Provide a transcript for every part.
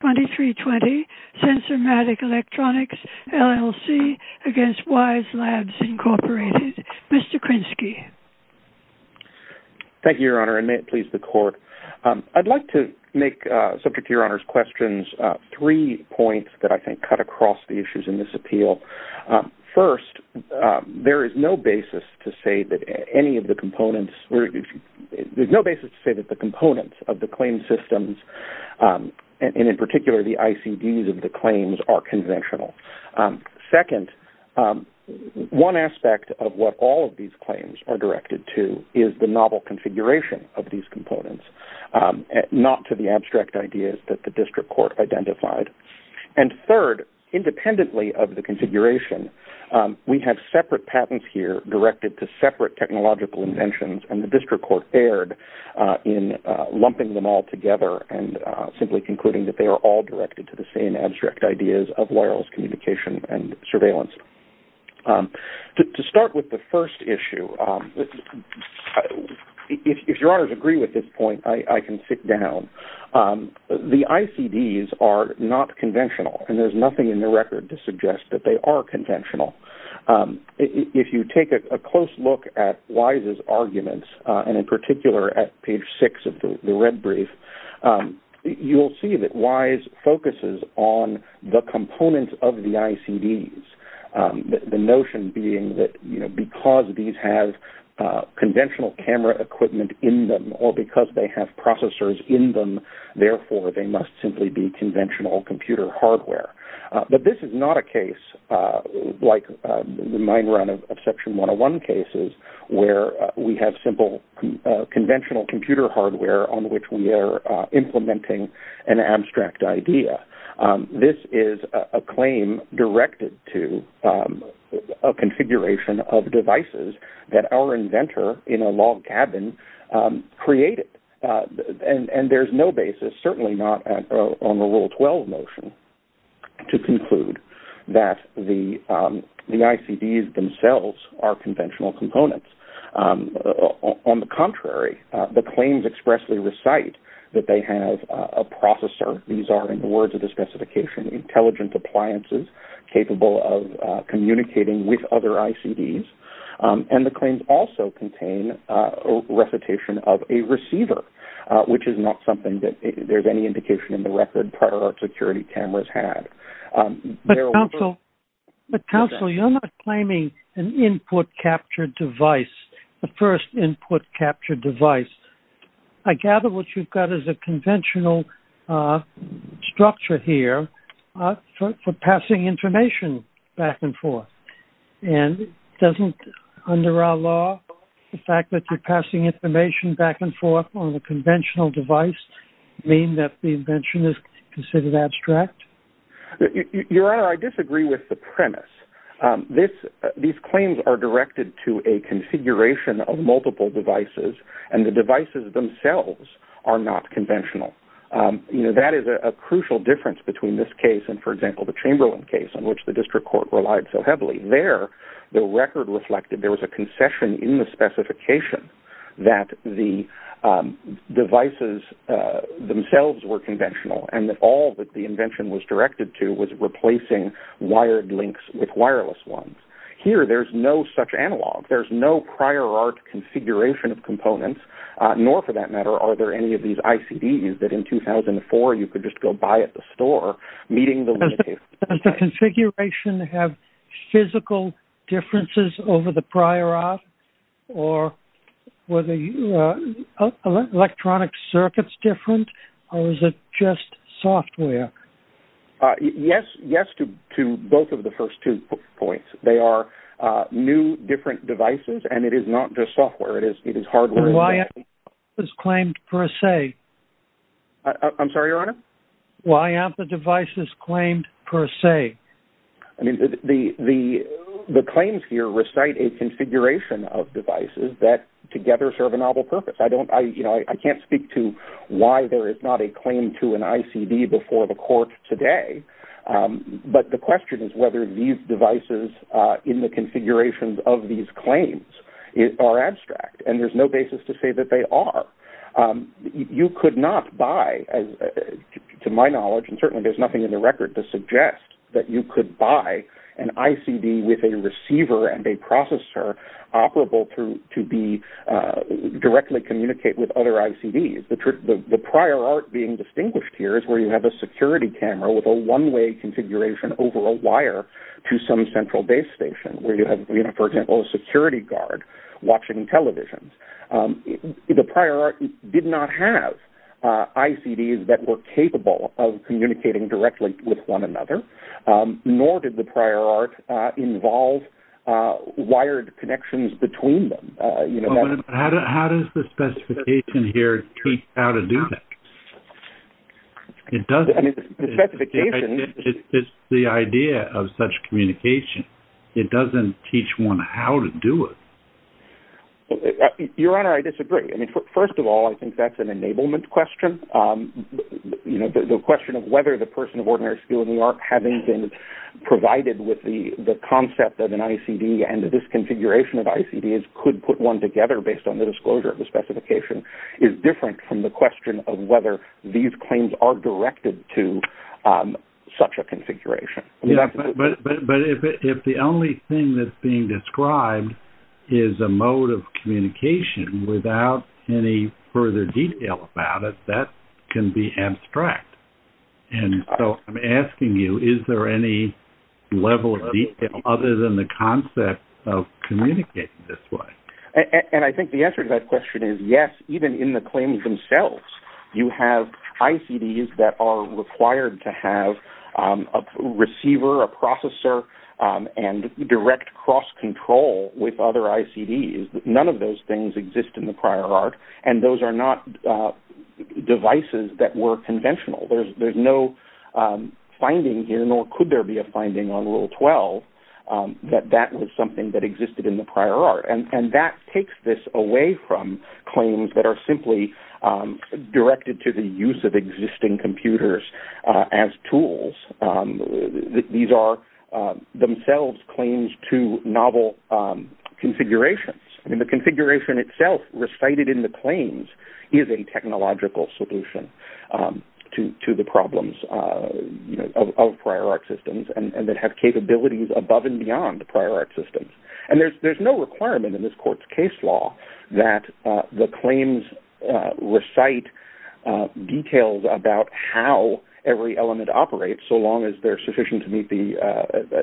2320, Censormatic Electronics, LLC, against Wyze Labs, Inc., Mr. Krinsky. Thank you, Your Honor, and may it please the Court. I'd like to make, subject to Your Honor's questions, three points that I think cut across the issues in this appeal. First, there is no basis to say that any of the components, there's no basis to say that components of the claim systems, and in particular the ICDs of the claims, are conventional. Second, one aspect of what all of these claims are directed to is the novel configuration of these components, not to the abstract ideas that the District Court identified. And third, independently of the configuration, we have separate patents here directed to separate lumping them all together and simply concluding that they are all directed to the same abstract ideas of wireless communication and surveillance. To start with the first issue, if Your Honor's agree with this point, I can sit down. The ICDs are not conventional, and there's nothing in the record to suggest that they are conventional. If you take a close look at Wise's arguments, and in particular at page six of the red brief, you'll see that Wise focuses on the components of the ICDs, the notion being that, you know, because these have conventional camera equipment in them or because they have processors in them, therefore they must simply be conventional computer hardware. But this is not a case like the main run of Section 101 cases where we have simple conventional computer hardware on which we are implementing an abstract idea. This is a claim directed to a configuration of devices that our inventor in a log cabin created. And there's no basis, certainly not on the Rule 12 motion to conclude that the ICDs themselves are conventional components. On the contrary, the claims expressly recite that they have a processor. These are, in the words of the specification, intelligent appliances capable of communicating with other ICDs. And the claims also contain recitation of a receiver, which is not something that there's any indication in the security cameras had. But, counsel, you're not claiming an input capture device, the first input capture device. I gather what you've got is a conventional structure here for passing information back and forth. And doesn't, under our law, the fact that you're passing information back and forth mean that the invention is considered abstract? Your Honor, I disagree with the premise. These claims are directed to a configuration of multiple devices, and the devices themselves are not conventional. You know, that is a crucial difference between this case and, for example, the Chamberlain case on which the District Court relied so heavily. There, the record reflected there was a concession in the specification that the devices themselves were conventional, and that all that the invention was directed to was replacing wired links with wireless ones. Here, there's no such analog. There's no prior art configuration of components, nor, for that matter, are there any of these ICDs that, in 2004, you could just go buy at the store, meeting the Does the configuration have physical differences over the prior art, or were the electronic circuits different, or was it just software? Yes, yes, to both of the first two points. They are new, different devices, and it is not just software. It is hardware. Why aren't the devices claimed, per se? I'm sorry, Your Honor? Why aren't the devices claimed, per se? I mean, the claims here recite a configuration of devices that together serve a novel purpose. I don't, you know, I can't speak to why there is not a claim to an ICD before the Court today, but the question is whether these devices in the configurations of these claims are abstract, and there's no basis to say that they are. You could not buy, to my knowledge, and certainly there's nothing in the record to suggest that you could buy an ICD with a receiver and a processor operable to directly communicate with other ICDs. The prior art being distinguished here is where you have a security camera with a one-way configuration over a wire to some central base station, where you have, for example, a did not have ICDs that were capable of communicating directly with one another, nor did the prior art involve wired connections between them. How does the specification here teach how to do that? It doesn't. I mean, the specification... It's the idea of such communication. It doesn't teach one how to do it. Well, Your Honor, I disagree. I mean, first of all, I think that's an enablement question. You know, the question of whether the person of ordinary skill in the art having been provided with the concept of an ICD and this configuration of ICDs could put one together based on the disclosure of the specification is different from the question of whether these claims are directed to such a configuration. But if the only thing that's being described is a mode of communication without any further detail about it, that can be abstract. And so I'm asking you, is there any level of detail other than the concept of communicating this way? And I think the answer to that question is yes, even in the claims themselves, you have ICDs that are required to have a receiver, a processor, and direct cross-control with other ICDs. None of those things exist in the prior art. And those are not devices that were conventional. There's no finding here, nor could there be a finding on Rule 12 that that was something that existed in the prior art. And that takes this away from claims that are simply directed to the use of existing computers as tools. These are themselves claims to novel configurations. And the configuration itself recited in the claims is a technological solution to the problems of prior art systems and that have capabilities above and beyond the prior art systems. And there's no requirement in this claims recite details about how every element operates so long as they're sufficient to meet the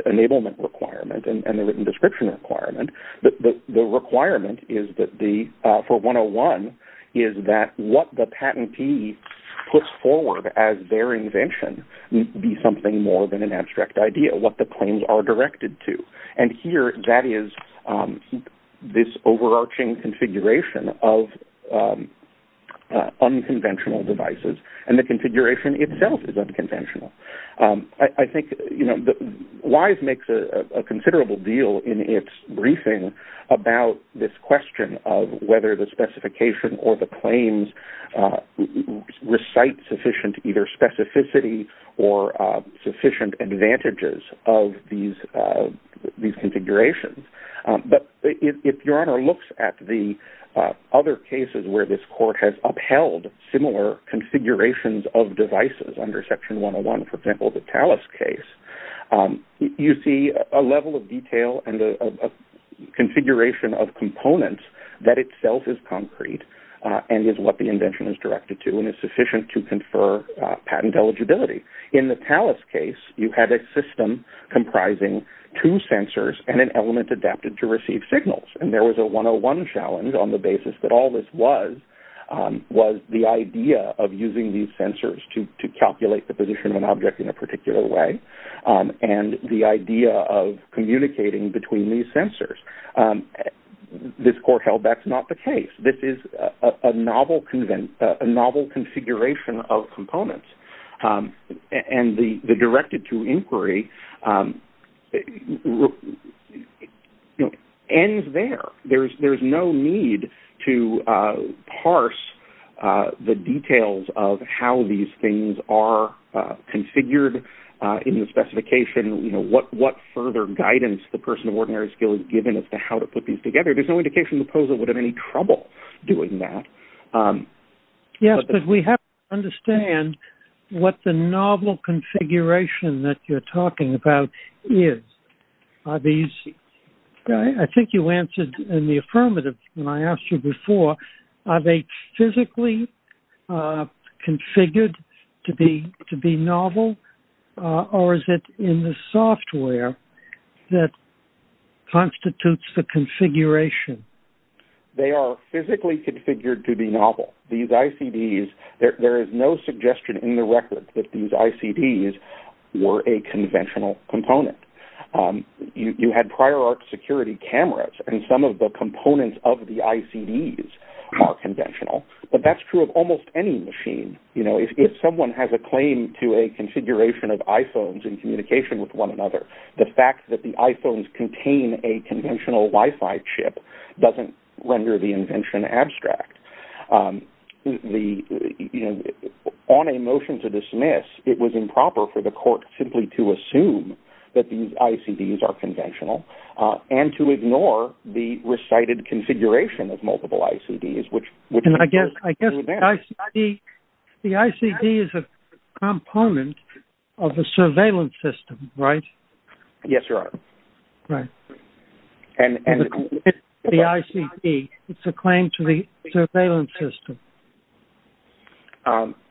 enablement requirement and the written description requirement. The requirement for 101 is that what the patentee puts forward as their invention be something more than an abstract idea, what the claims are directed to. And here, that is this overarching configuration of unconventional devices. And the configuration itself is unconventional. I think WISE makes a considerable deal in its briefing about this question of whether the specification or the claims recite sufficient either specificity or sufficient advantages of these configurations. But if your honor looks at the other cases where this court has upheld similar configurations of devices under Section 101, for example, the TALIS case, you see a level of detail and a configuration of components that itself is concrete and is what the invention is directed to and is sufficient to confer patent eligibility. In the TALIS case, you had a system comprising two sensors and an element adapted to receive signals. And there was a 101 challenge on the basis that all this was the idea of using these sensors to calculate the position of an object in a particular way and the idea of communicating between these sensors. This court held that's not the case. This is a novel configuration of components. And the directed to inquiry ends there. There's no need to parse the details of how these things are configured in the specification, what further guidance the person of ordinary skill is given as to how to put these together. There's no indication the novel configuration that you're talking about is. I think you answered in the affirmative when I asked you before, are they physically configured to be novel or is it in the software that constitutes the configuration? They are physically configured to be novel. These ICDs, there is no suggestion in the record that these ICDs were a conventional component. You had prior art security cameras and some of the components of the ICDs are conventional. But that's true of almost any machine. If someone has a claim to a configuration of iPhones in communication with one another, the fact that the iPhones contain a conventional Wi-Fi chip doesn't render the invention abstract. On a motion to dismiss, it was improper for the court simply to assume that these ICDs are conventional and to ignore the recited configuration of multiple ICDs. I guess the ICD is a component of the surveillance system, right? Yes, Your Honor. The ICD, it's a claim to the surveillance system.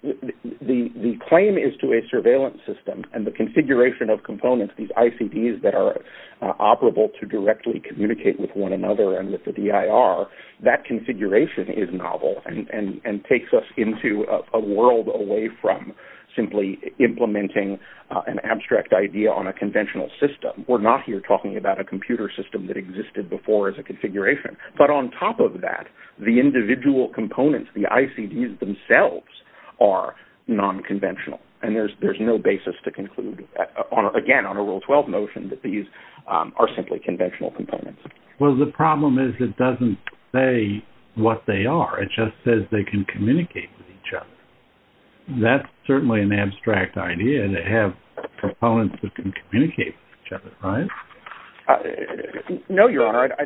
The claim is to a surveillance system and the configuration of components, these ICDs that are operable to directly communicate with one another and with the DIR, that configuration is novel and takes us into a world away from simply implementing an abstract idea on a conventional system. We're not here talking about a computer system that existed before as a configuration. But on top of that, the individual components, the ICDs themselves are non-conventional. And there's no basis to conclude, again, on a Rule 12 notion that these are simply conventional components. Well, the problem is it doesn't say what they are. It just says they can communicate with each other. That's certainly an abstract idea to have proponents that can communicate with each other, right? No, Your Honor. I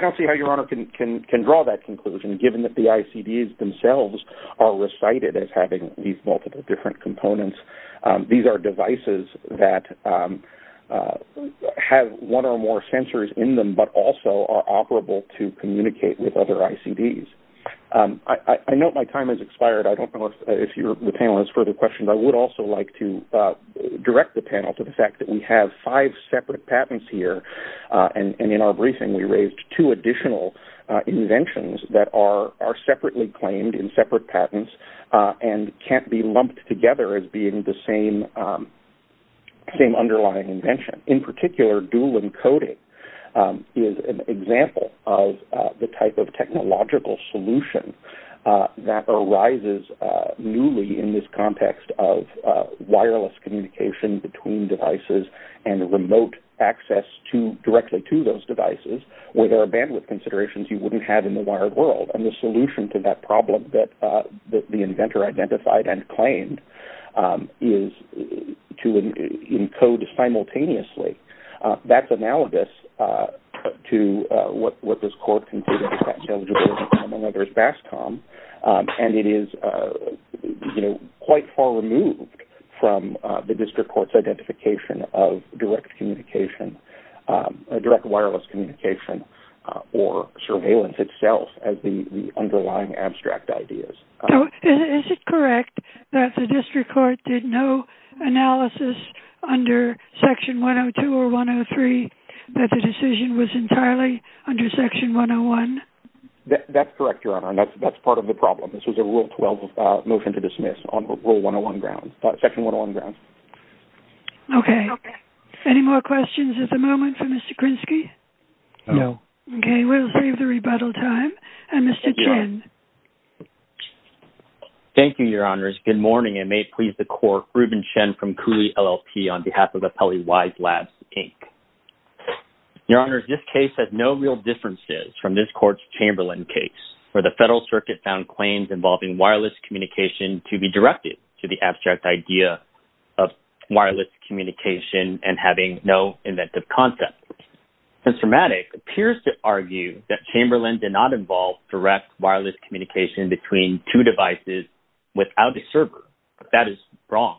don't see how Your Honor can draw that conclusion, given that the ICDs themselves are recited as having these multiple different components. These are devices that have one or more sensors in them, but also are operable to communicate with other ICDs. I know my time has expired. I don't know if the panel has further questions. I would also like to direct the panel to the fact that we have five separate patents here. And in our briefing, we raised two additional inventions that are separately claimed in separate patents and can't be lumped together as being the same underlying invention. In particular, dual encoding is an example of the type of technological solution that arises newly in this context of wireless communication between devices and remote access directly to those devices where there are bandwidth considerations you wouldn't have in the wired world. And the solution to that problem that the inventor identified and claimed is to encode simultaneously. That's analogous to what this court concluded in Patent Eligibility Common Law. There's BASCOM, and it is quite far removed from the district court's identification of direct wireless communication or surveillance itself as the underlying abstract ideas. Is it correct that the district court did no analysis under Section 102 or 103 that the decision was entirely under Section 101? That's correct, Your Honor. That's part of the problem. This was a Rule 12 motion to dismiss on Rule 101 grounds, Section 101 grounds. Okay. Any more questions at the moment for Mr. Krinsky? No. Okay. We'll save the rebuttal time. Mr. Chen. Thank you, Your Honors. Good morning, and may it please the Court, Ruben Chen from Cooley, LLP, on behalf of the Pelley Wise Labs, Inc. Your Honors, this case has no real differences from this court's Chamberlain case, where the Federal Circuit found claims involving wireless communication to be directed to the abstract idea of wireless communication and having no inventive concept. Mr. Matic appears to argue that Chamberlain did not involve direct wireless communication between two devices without the server, but that is wrong.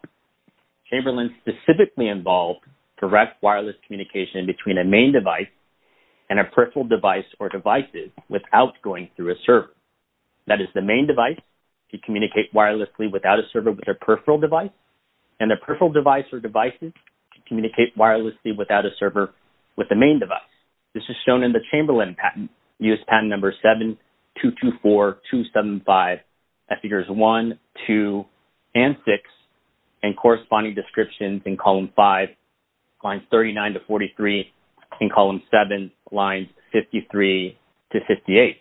Chamberlain specifically involved direct wireless communication between a main device and a peripheral device or devices without going through a server. That is the main device could communicate wirelessly without a server with a peripheral device, and the peripheral device or devices could communicate wirelessly without a server with the main device. This is in the Chamberlain patent, patent number 7224275, figures 1, 2, and 6, and corresponding descriptions in column 5, lines 39 to 43, and column 7, lines 53 to 58.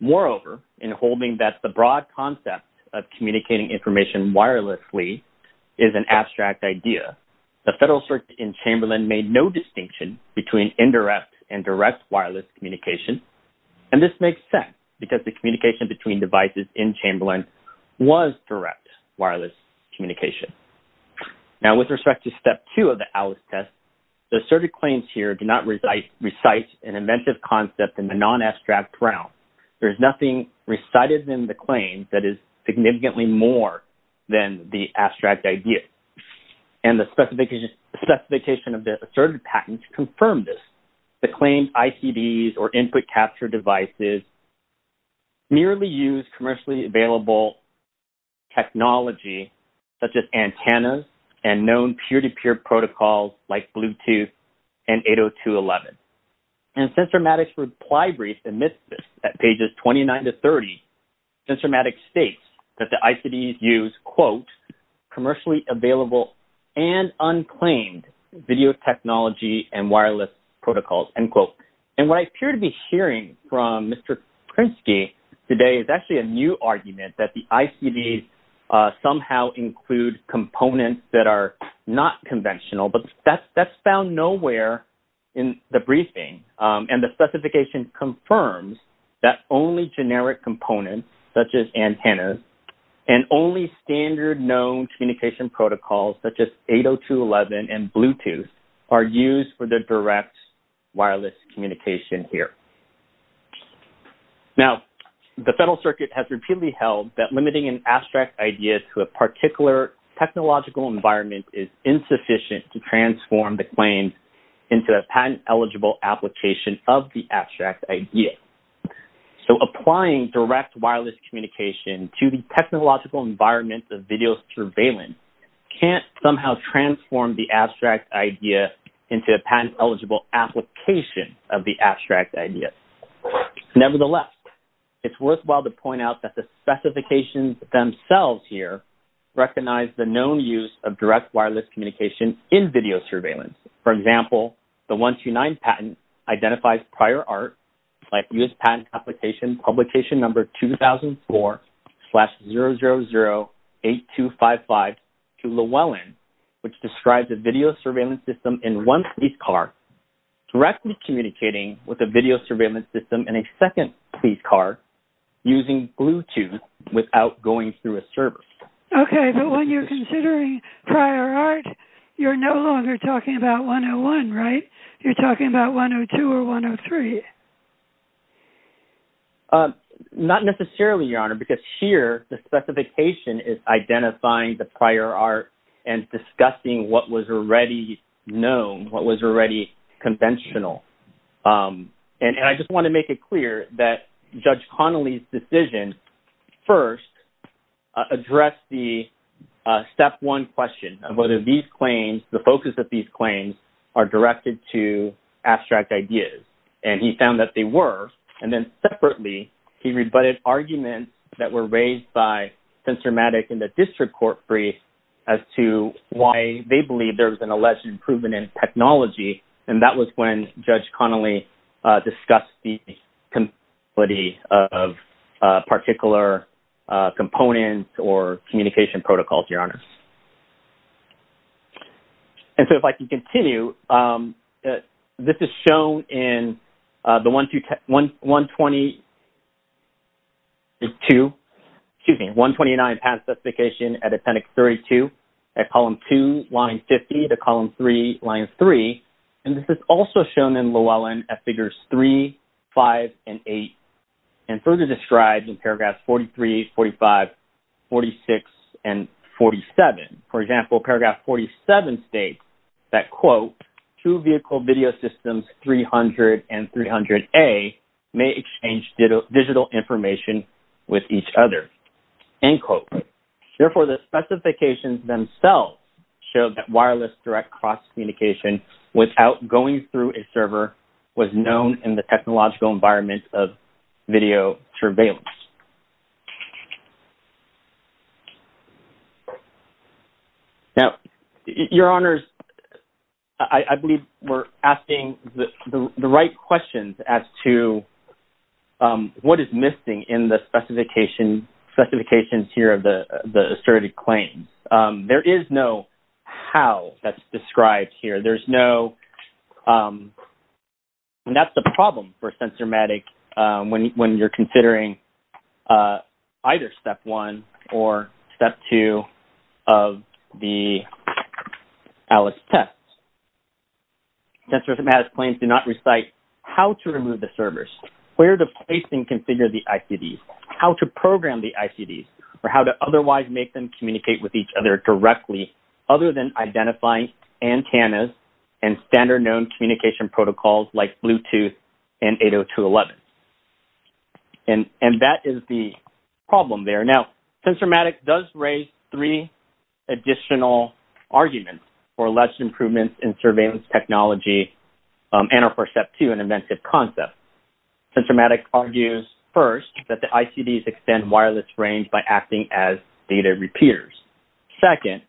Moreover, in holding that the broad concept of communicating information wirelessly is an abstract idea, the Federal Circuit in direct wireless communication, and this makes sense because the communication between devices in Chamberlain was direct wireless communication. Now, with respect to step 2 of the ALICE test, the asserted claims here do not recite an inventive concept in the non-abstract realm. There is nothing recited in the claim that is significantly more than the abstract idea, and the specification of the asserted patent confirmed this. The claimed ICDs or input capture devices merely use commercially available technology such as antennas and known peer-to-peer protocols like Bluetooth and 802.11, and Sensormatic's reply brief admits this at pages 29 to 30. Sensormatic states that the ICDs use, quote, commercially available and unclaimed video technology and wireless protocols, end quote. And what I appear to be hearing from Mr. Krinsky today is actually a new argument that the ICDs somehow include components that are not conventional, but that's found nowhere in the briefing, and the specification confirms that only generic components such as antennas and only standard known communication protocols such as 802.11 and Bluetooth are used for the direct wireless communication here. Now, the Federal Circuit has repeatedly held that limiting an abstract idea to a particular technological environment is insufficient to transform the claims into a patent-eligible application of the abstract idea. So, applying direct wireless communication to the technological environment of video surveillance can't somehow transform the abstract idea into a patent-eligible application of the abstract idea. Nevertheless, it's worthwhile to point out that the specifications themselves here recognize the known use of direct wireless communication in video surveillance. For example, the 129 patent identifies prior art like U.S. Patent Application Publication Number 2004-0008255 to Llewellyn, which describes a video surveillance system in one police car directly communicating with a video surveillance system in a second police car using Bluetooth without going through a server. Okay, but when you're considering prior art, you're no longer talking about 101, right? You're talking about 102 or 103. Not necessarily, Your Honor, because here the specification is identifying the prior art and discussing what was already known, what was already conventional. And I just want to make it the focus of these claims are directed to abstract ideas. And he found that they were. And then separately, he rebutted arguments that were raised by Censormatic in the district court brief as to why they believe there was an alleged improvement in technology. And that was when Judge Connolly discussed the possibility of particular components or communication protocols, Your Honor. And so if I can continue, this is shown in the 129 patent specification at Appendix 32, at Column 2, Line 50 to Column 3, Line 3. And this is also shown in Llewellyn at Figures 3, 5, and 8, and further described in Paragraphs 43, 45, 46, and 47. For example, Paragraph 47 states that, quote, two vehicle video systems, 300 and 300A, may exchange digital information with each other, end quote. Therefore, the specifications themselves show that wireless direct cross-communication without going through a server was known in the technological environment of video surveillance. Now, Your Honors, I believe we're asking the right questions as to what is missing in the specifications here of the asserted claims. There is no how that's described here. There's no, and that's the problem for SensorMatic when you're considering either Step 1 or Step 2 of the ALICE test. SensorMatic claims do not recite how to remove the servers, where to place and configure the ICDs, how to program the ICDs, or how to otherwise make them communicate with each other directly other than identifying antennas and standard known communication protocols like Bluetooth and 802.11. And that is the problem there. Now, SensorMatic does raise three additional arguments for alleged improvements in surveillance technology and or for Step 2, an inventive concept. SensorMatic argues, first, that the ICDs extend wireless range by acting as data repeaters. Second,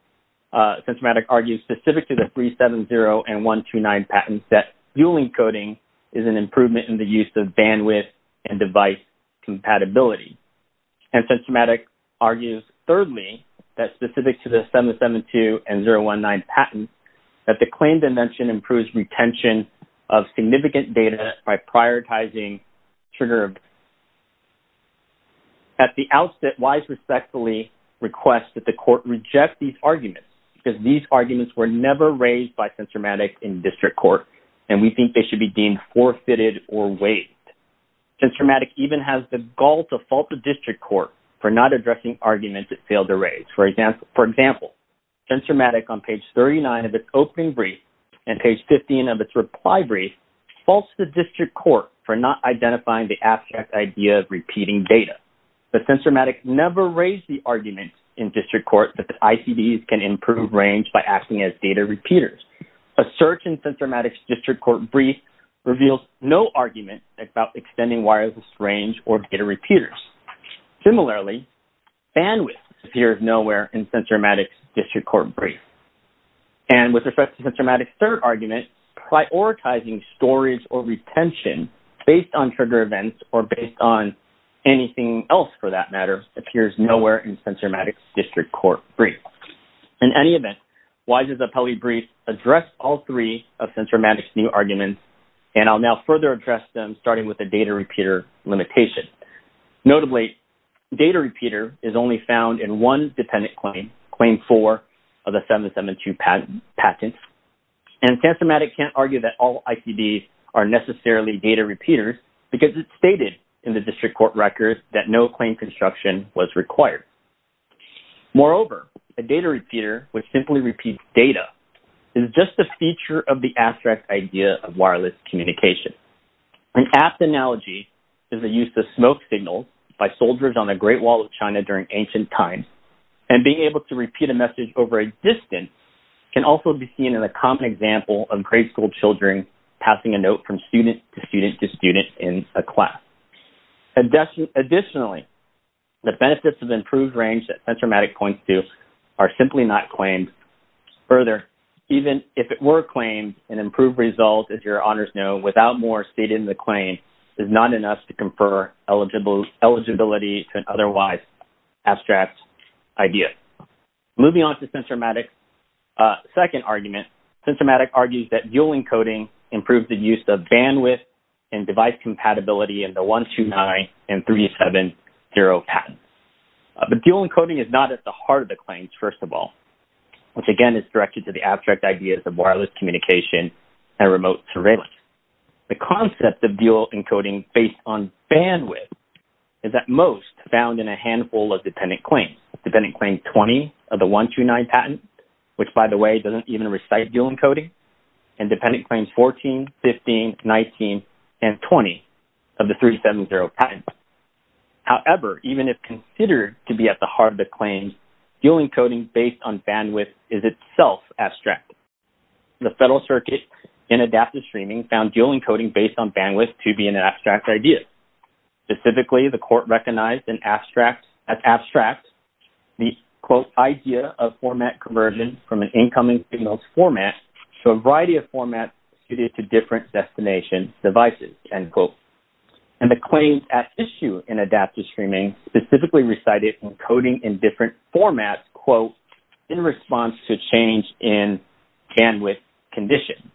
SensorMatic argues, specific to the 370 and 129 patents, that dual encoding is an improvement in the use of bandwidth and device compatibility. And SensorMatic argues, thirdly, that specific to the 772 and 019 patents, that the claim dimension improves retention of significant data by prioritizing trigger events. At the outset, WISE respectfully requests that the court reject these arguments because these arguments were never raised by SensorMatic in district court, and we think they should be deemed forfeited or waived. SensorMatic even has the gall to fault the district court for not addressing arguments it failed to raise. For example, SensorMatic, on page 39 of its opening brief and page 15 of its reply brief, faults the district court for not identifying the abstract idea of repeating data. But SensorMatic never raised the argument in district court that the ICDs can improve range by acting as data repeaters. A search in SensorMatic's district court brief reveals no argument about extending wireless range or data repeaters. Similarly, bandwidth appears nowhere in SensorMatic's district court brief. And with respect to SensorMatic's third argument, prioritizing storage or retention based on trigger events or based on anything else, for that matter, appears nowhere in SensorMatic's district court brief. In any event, WISE's appellee brief addressed all three of SensorMatic's new arguments, and I'll now further address them starting with the data repeater limitation. Notably, data repeater is only found in one dependent claim, claim four of the 772 patents. And SensorMatic can't argue that all ICDs are necessarily data repeaters because it's stated in the district court records that no claim construction was required. Moreover, a data repeater, which simply repeats data, is just a feature of the abstract idea of wireless communication. An apt analogy is the use of smoke signals by soldiers on the Great Wall of China during ancient times. And being able to repeat a message over a distance can also be seen in a common example of grade school children passing a note from student to student to student in a class. Additionally, the benefits of improved range that SensorMatic points to are simply not claimed. Further, even if it were claimed, an improved result, as your honors know, without more stated in the claim is not enough to confer eligibility to an abstract idea. Moving on to SensorMatic's second argument, SensorMatic argues that dual encoding improves the use of bandwidth and device compatibility in the 129 and 370 patents. But dual encoding is not at the heart of the claims, first of all, which again is directed to the abstract ideas of wireless communication and remote surveillance. The concept of dual encoding based on bandwidth is at most found in a handful of dependent claims, dependent claim 20 of the 129 patent, which, by the way, doesn't even recite dual encoding, and dependent claims 14, 15, 19, and 20 of the 370 patents. However, even if considered to be at the heart of the claims, dual encoding based on bandwidth is itself abstract. The Federal Circuit in adaptive streaming found dual encoding based on bandwidth to be an abstract idea. Specifically, the court recognized as abstract the, quote, idea of format conversion from an incoming signal's format to a variety of formats suited to different destination devices, end quote. And the claims at issue in adaptive streaming specifically recited encoding in different formats, quote, in response to change in bandwidth condition.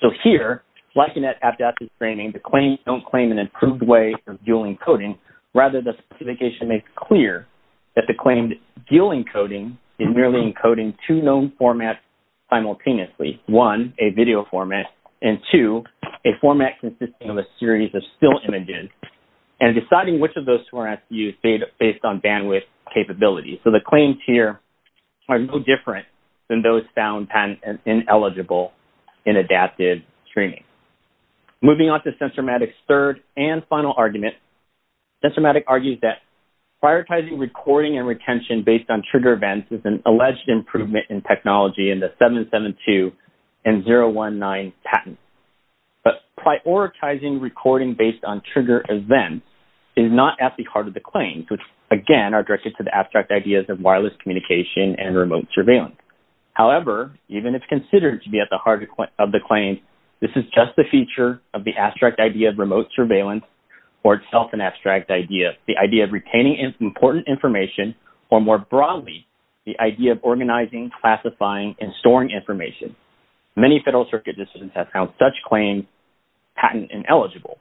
So here, like in that adaptive streaming, the claims don't claim an improved way of dual encoding. Rather, the specification makes clear that the claim dual encoding is merely encoding two known formats simultaneously, one, a video format, and two, a format consisting of a series of still images, and deciding which of those formats to use based on bandwidth capability. So, the claims here are no different than those found ineligible in adaptive streaming. Moving on to SensorMatic's third and final argument, SensorMatic argues that prioritizing recording and retention based on trigger events is an alleged improvement in technology in the 772 and 019 patents. But prioritizing recording based on trigger events is not at the heart of the claims, which, again, are directed to the abstract ideas of wireless communication and remote surveillance. However, even if considered to be at the heart of the claims, this is just the feature of the abstract idea of remote surveillance or itself an abstract idea, the idea of retaining important information, or more broadly, the idea of organizing, classifying, and storing information. Many Federal Circuit decisions have found such claims patent ineligible.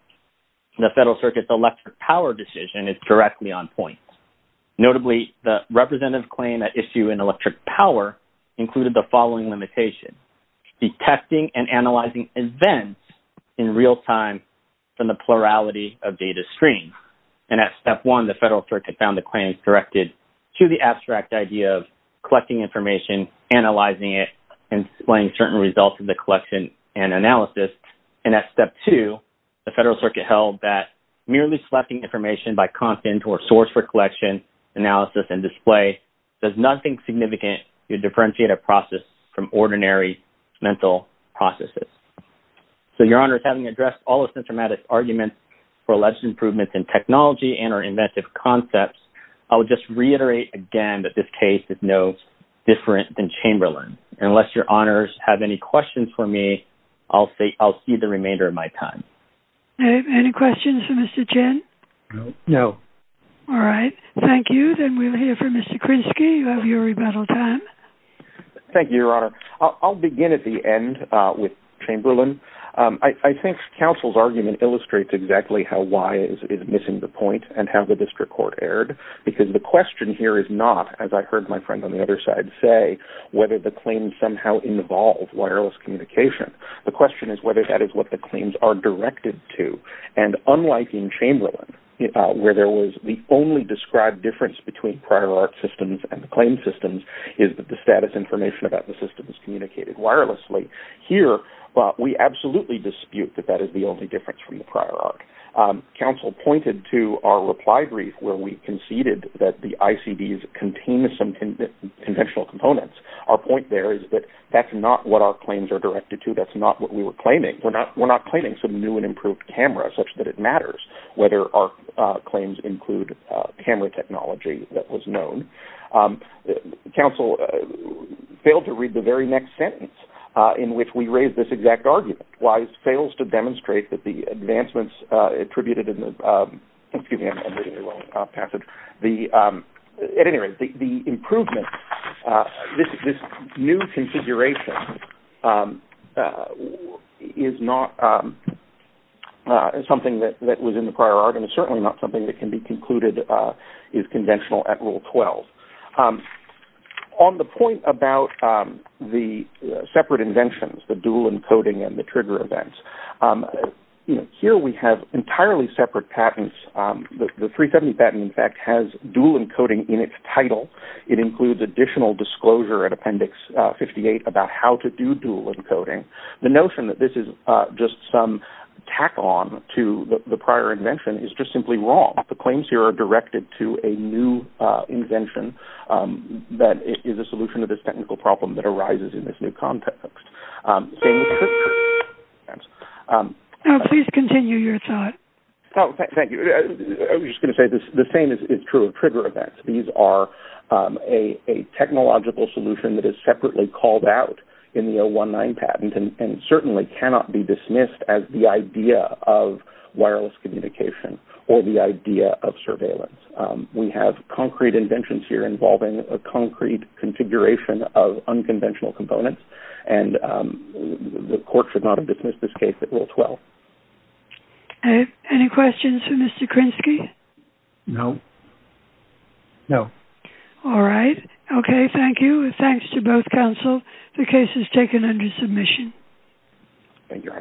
The Federal Circuit's electric power decision is directly on point. Notably, the representative claim at issue in electric power included the following limitation, detecting and analyzing events in real time from the plurality of data streams. And at step one, the Federal Circuit found the claims directed to the abstract idea of collecting information, analyzing it, and displaying certain results of the collection and analysis. And at step two, the Federal Circuit held that merely selecting information by content or source for collection, analysis, and display does nothing significant to differentiate a process from ordinary mental processes. So, Your Honors, having addressed all of SensorMatic's arguments for alleged improvements in technology and our inventive concepts, I would just reiterate again that this case is no different than Chamberlain. Unless Your Honors have any questions for me, I'll see the remainder of my time. Any questions for Mr. Chen? No. No. All right. Thank you. Then we'll hear from Mr. Krinsky. You have your rebuttal time. Thank you, Your Honor. I'll begin at the end with Chamberlain. I think counsel's argument illustrates exactly how why it is missing the point and how the district court erred, because the question here is not, as I heard my friend on the other side say, whether the claims somehow involve wireless communication. The question is whether that is what the claims are directed to. And unlike in Chamberlain, where there was the only described difference between prior art systems and the claim systems is that the status information about the system is communicated wirelessly. Here, we absolutely dispute that that is the difference from the prior art. Counsel pointed to our reply brief where we conceded that the ICDs contain some conventional components. Our point there is that that's not what our claims are directed to. That's not what we were claiming. We're not claiming some new and improved camera such that it matters whether our claims include camera technology that was known. Counsel failed to read the very next sentence in which we raised this exact argument. Why it the advancements attributed in the, excuse me, I'm reading the wrong passage. At any rate, the improvement, this new configuration is not something that was in the prior art and certainly not something that can be concluded is conventional at Rule 12. On the point about the separate inventions, the dual encoding and the trigger events, here we have entirely separate patents. The 370 patent, in fact, has dual encoding in its title. It includes additional disclosure at Appendix 58 about how to do dual encoding. The notion that this is just some tack-on to the prior invention is just simply wrong. The claims here are directed to a new invention that is a solution to this technical problem that arises in this new context. Please continue your thought. Thank you. I was just going to say the same is true of trigger events. These are a technological solution that is separately called out in the 019 patent and certainly cannot be dismissed as the idea of wireless communication or the idea of surveillance. We have concrete inventions here involving a concrete configuration of unconventional components. The court should not have dismissed this case at Rule 12. Any questions for Mr. Krinsky? No. No. All right. Okay. Thank you. Thanks to both counsel. The case is taken under submission. Thank you.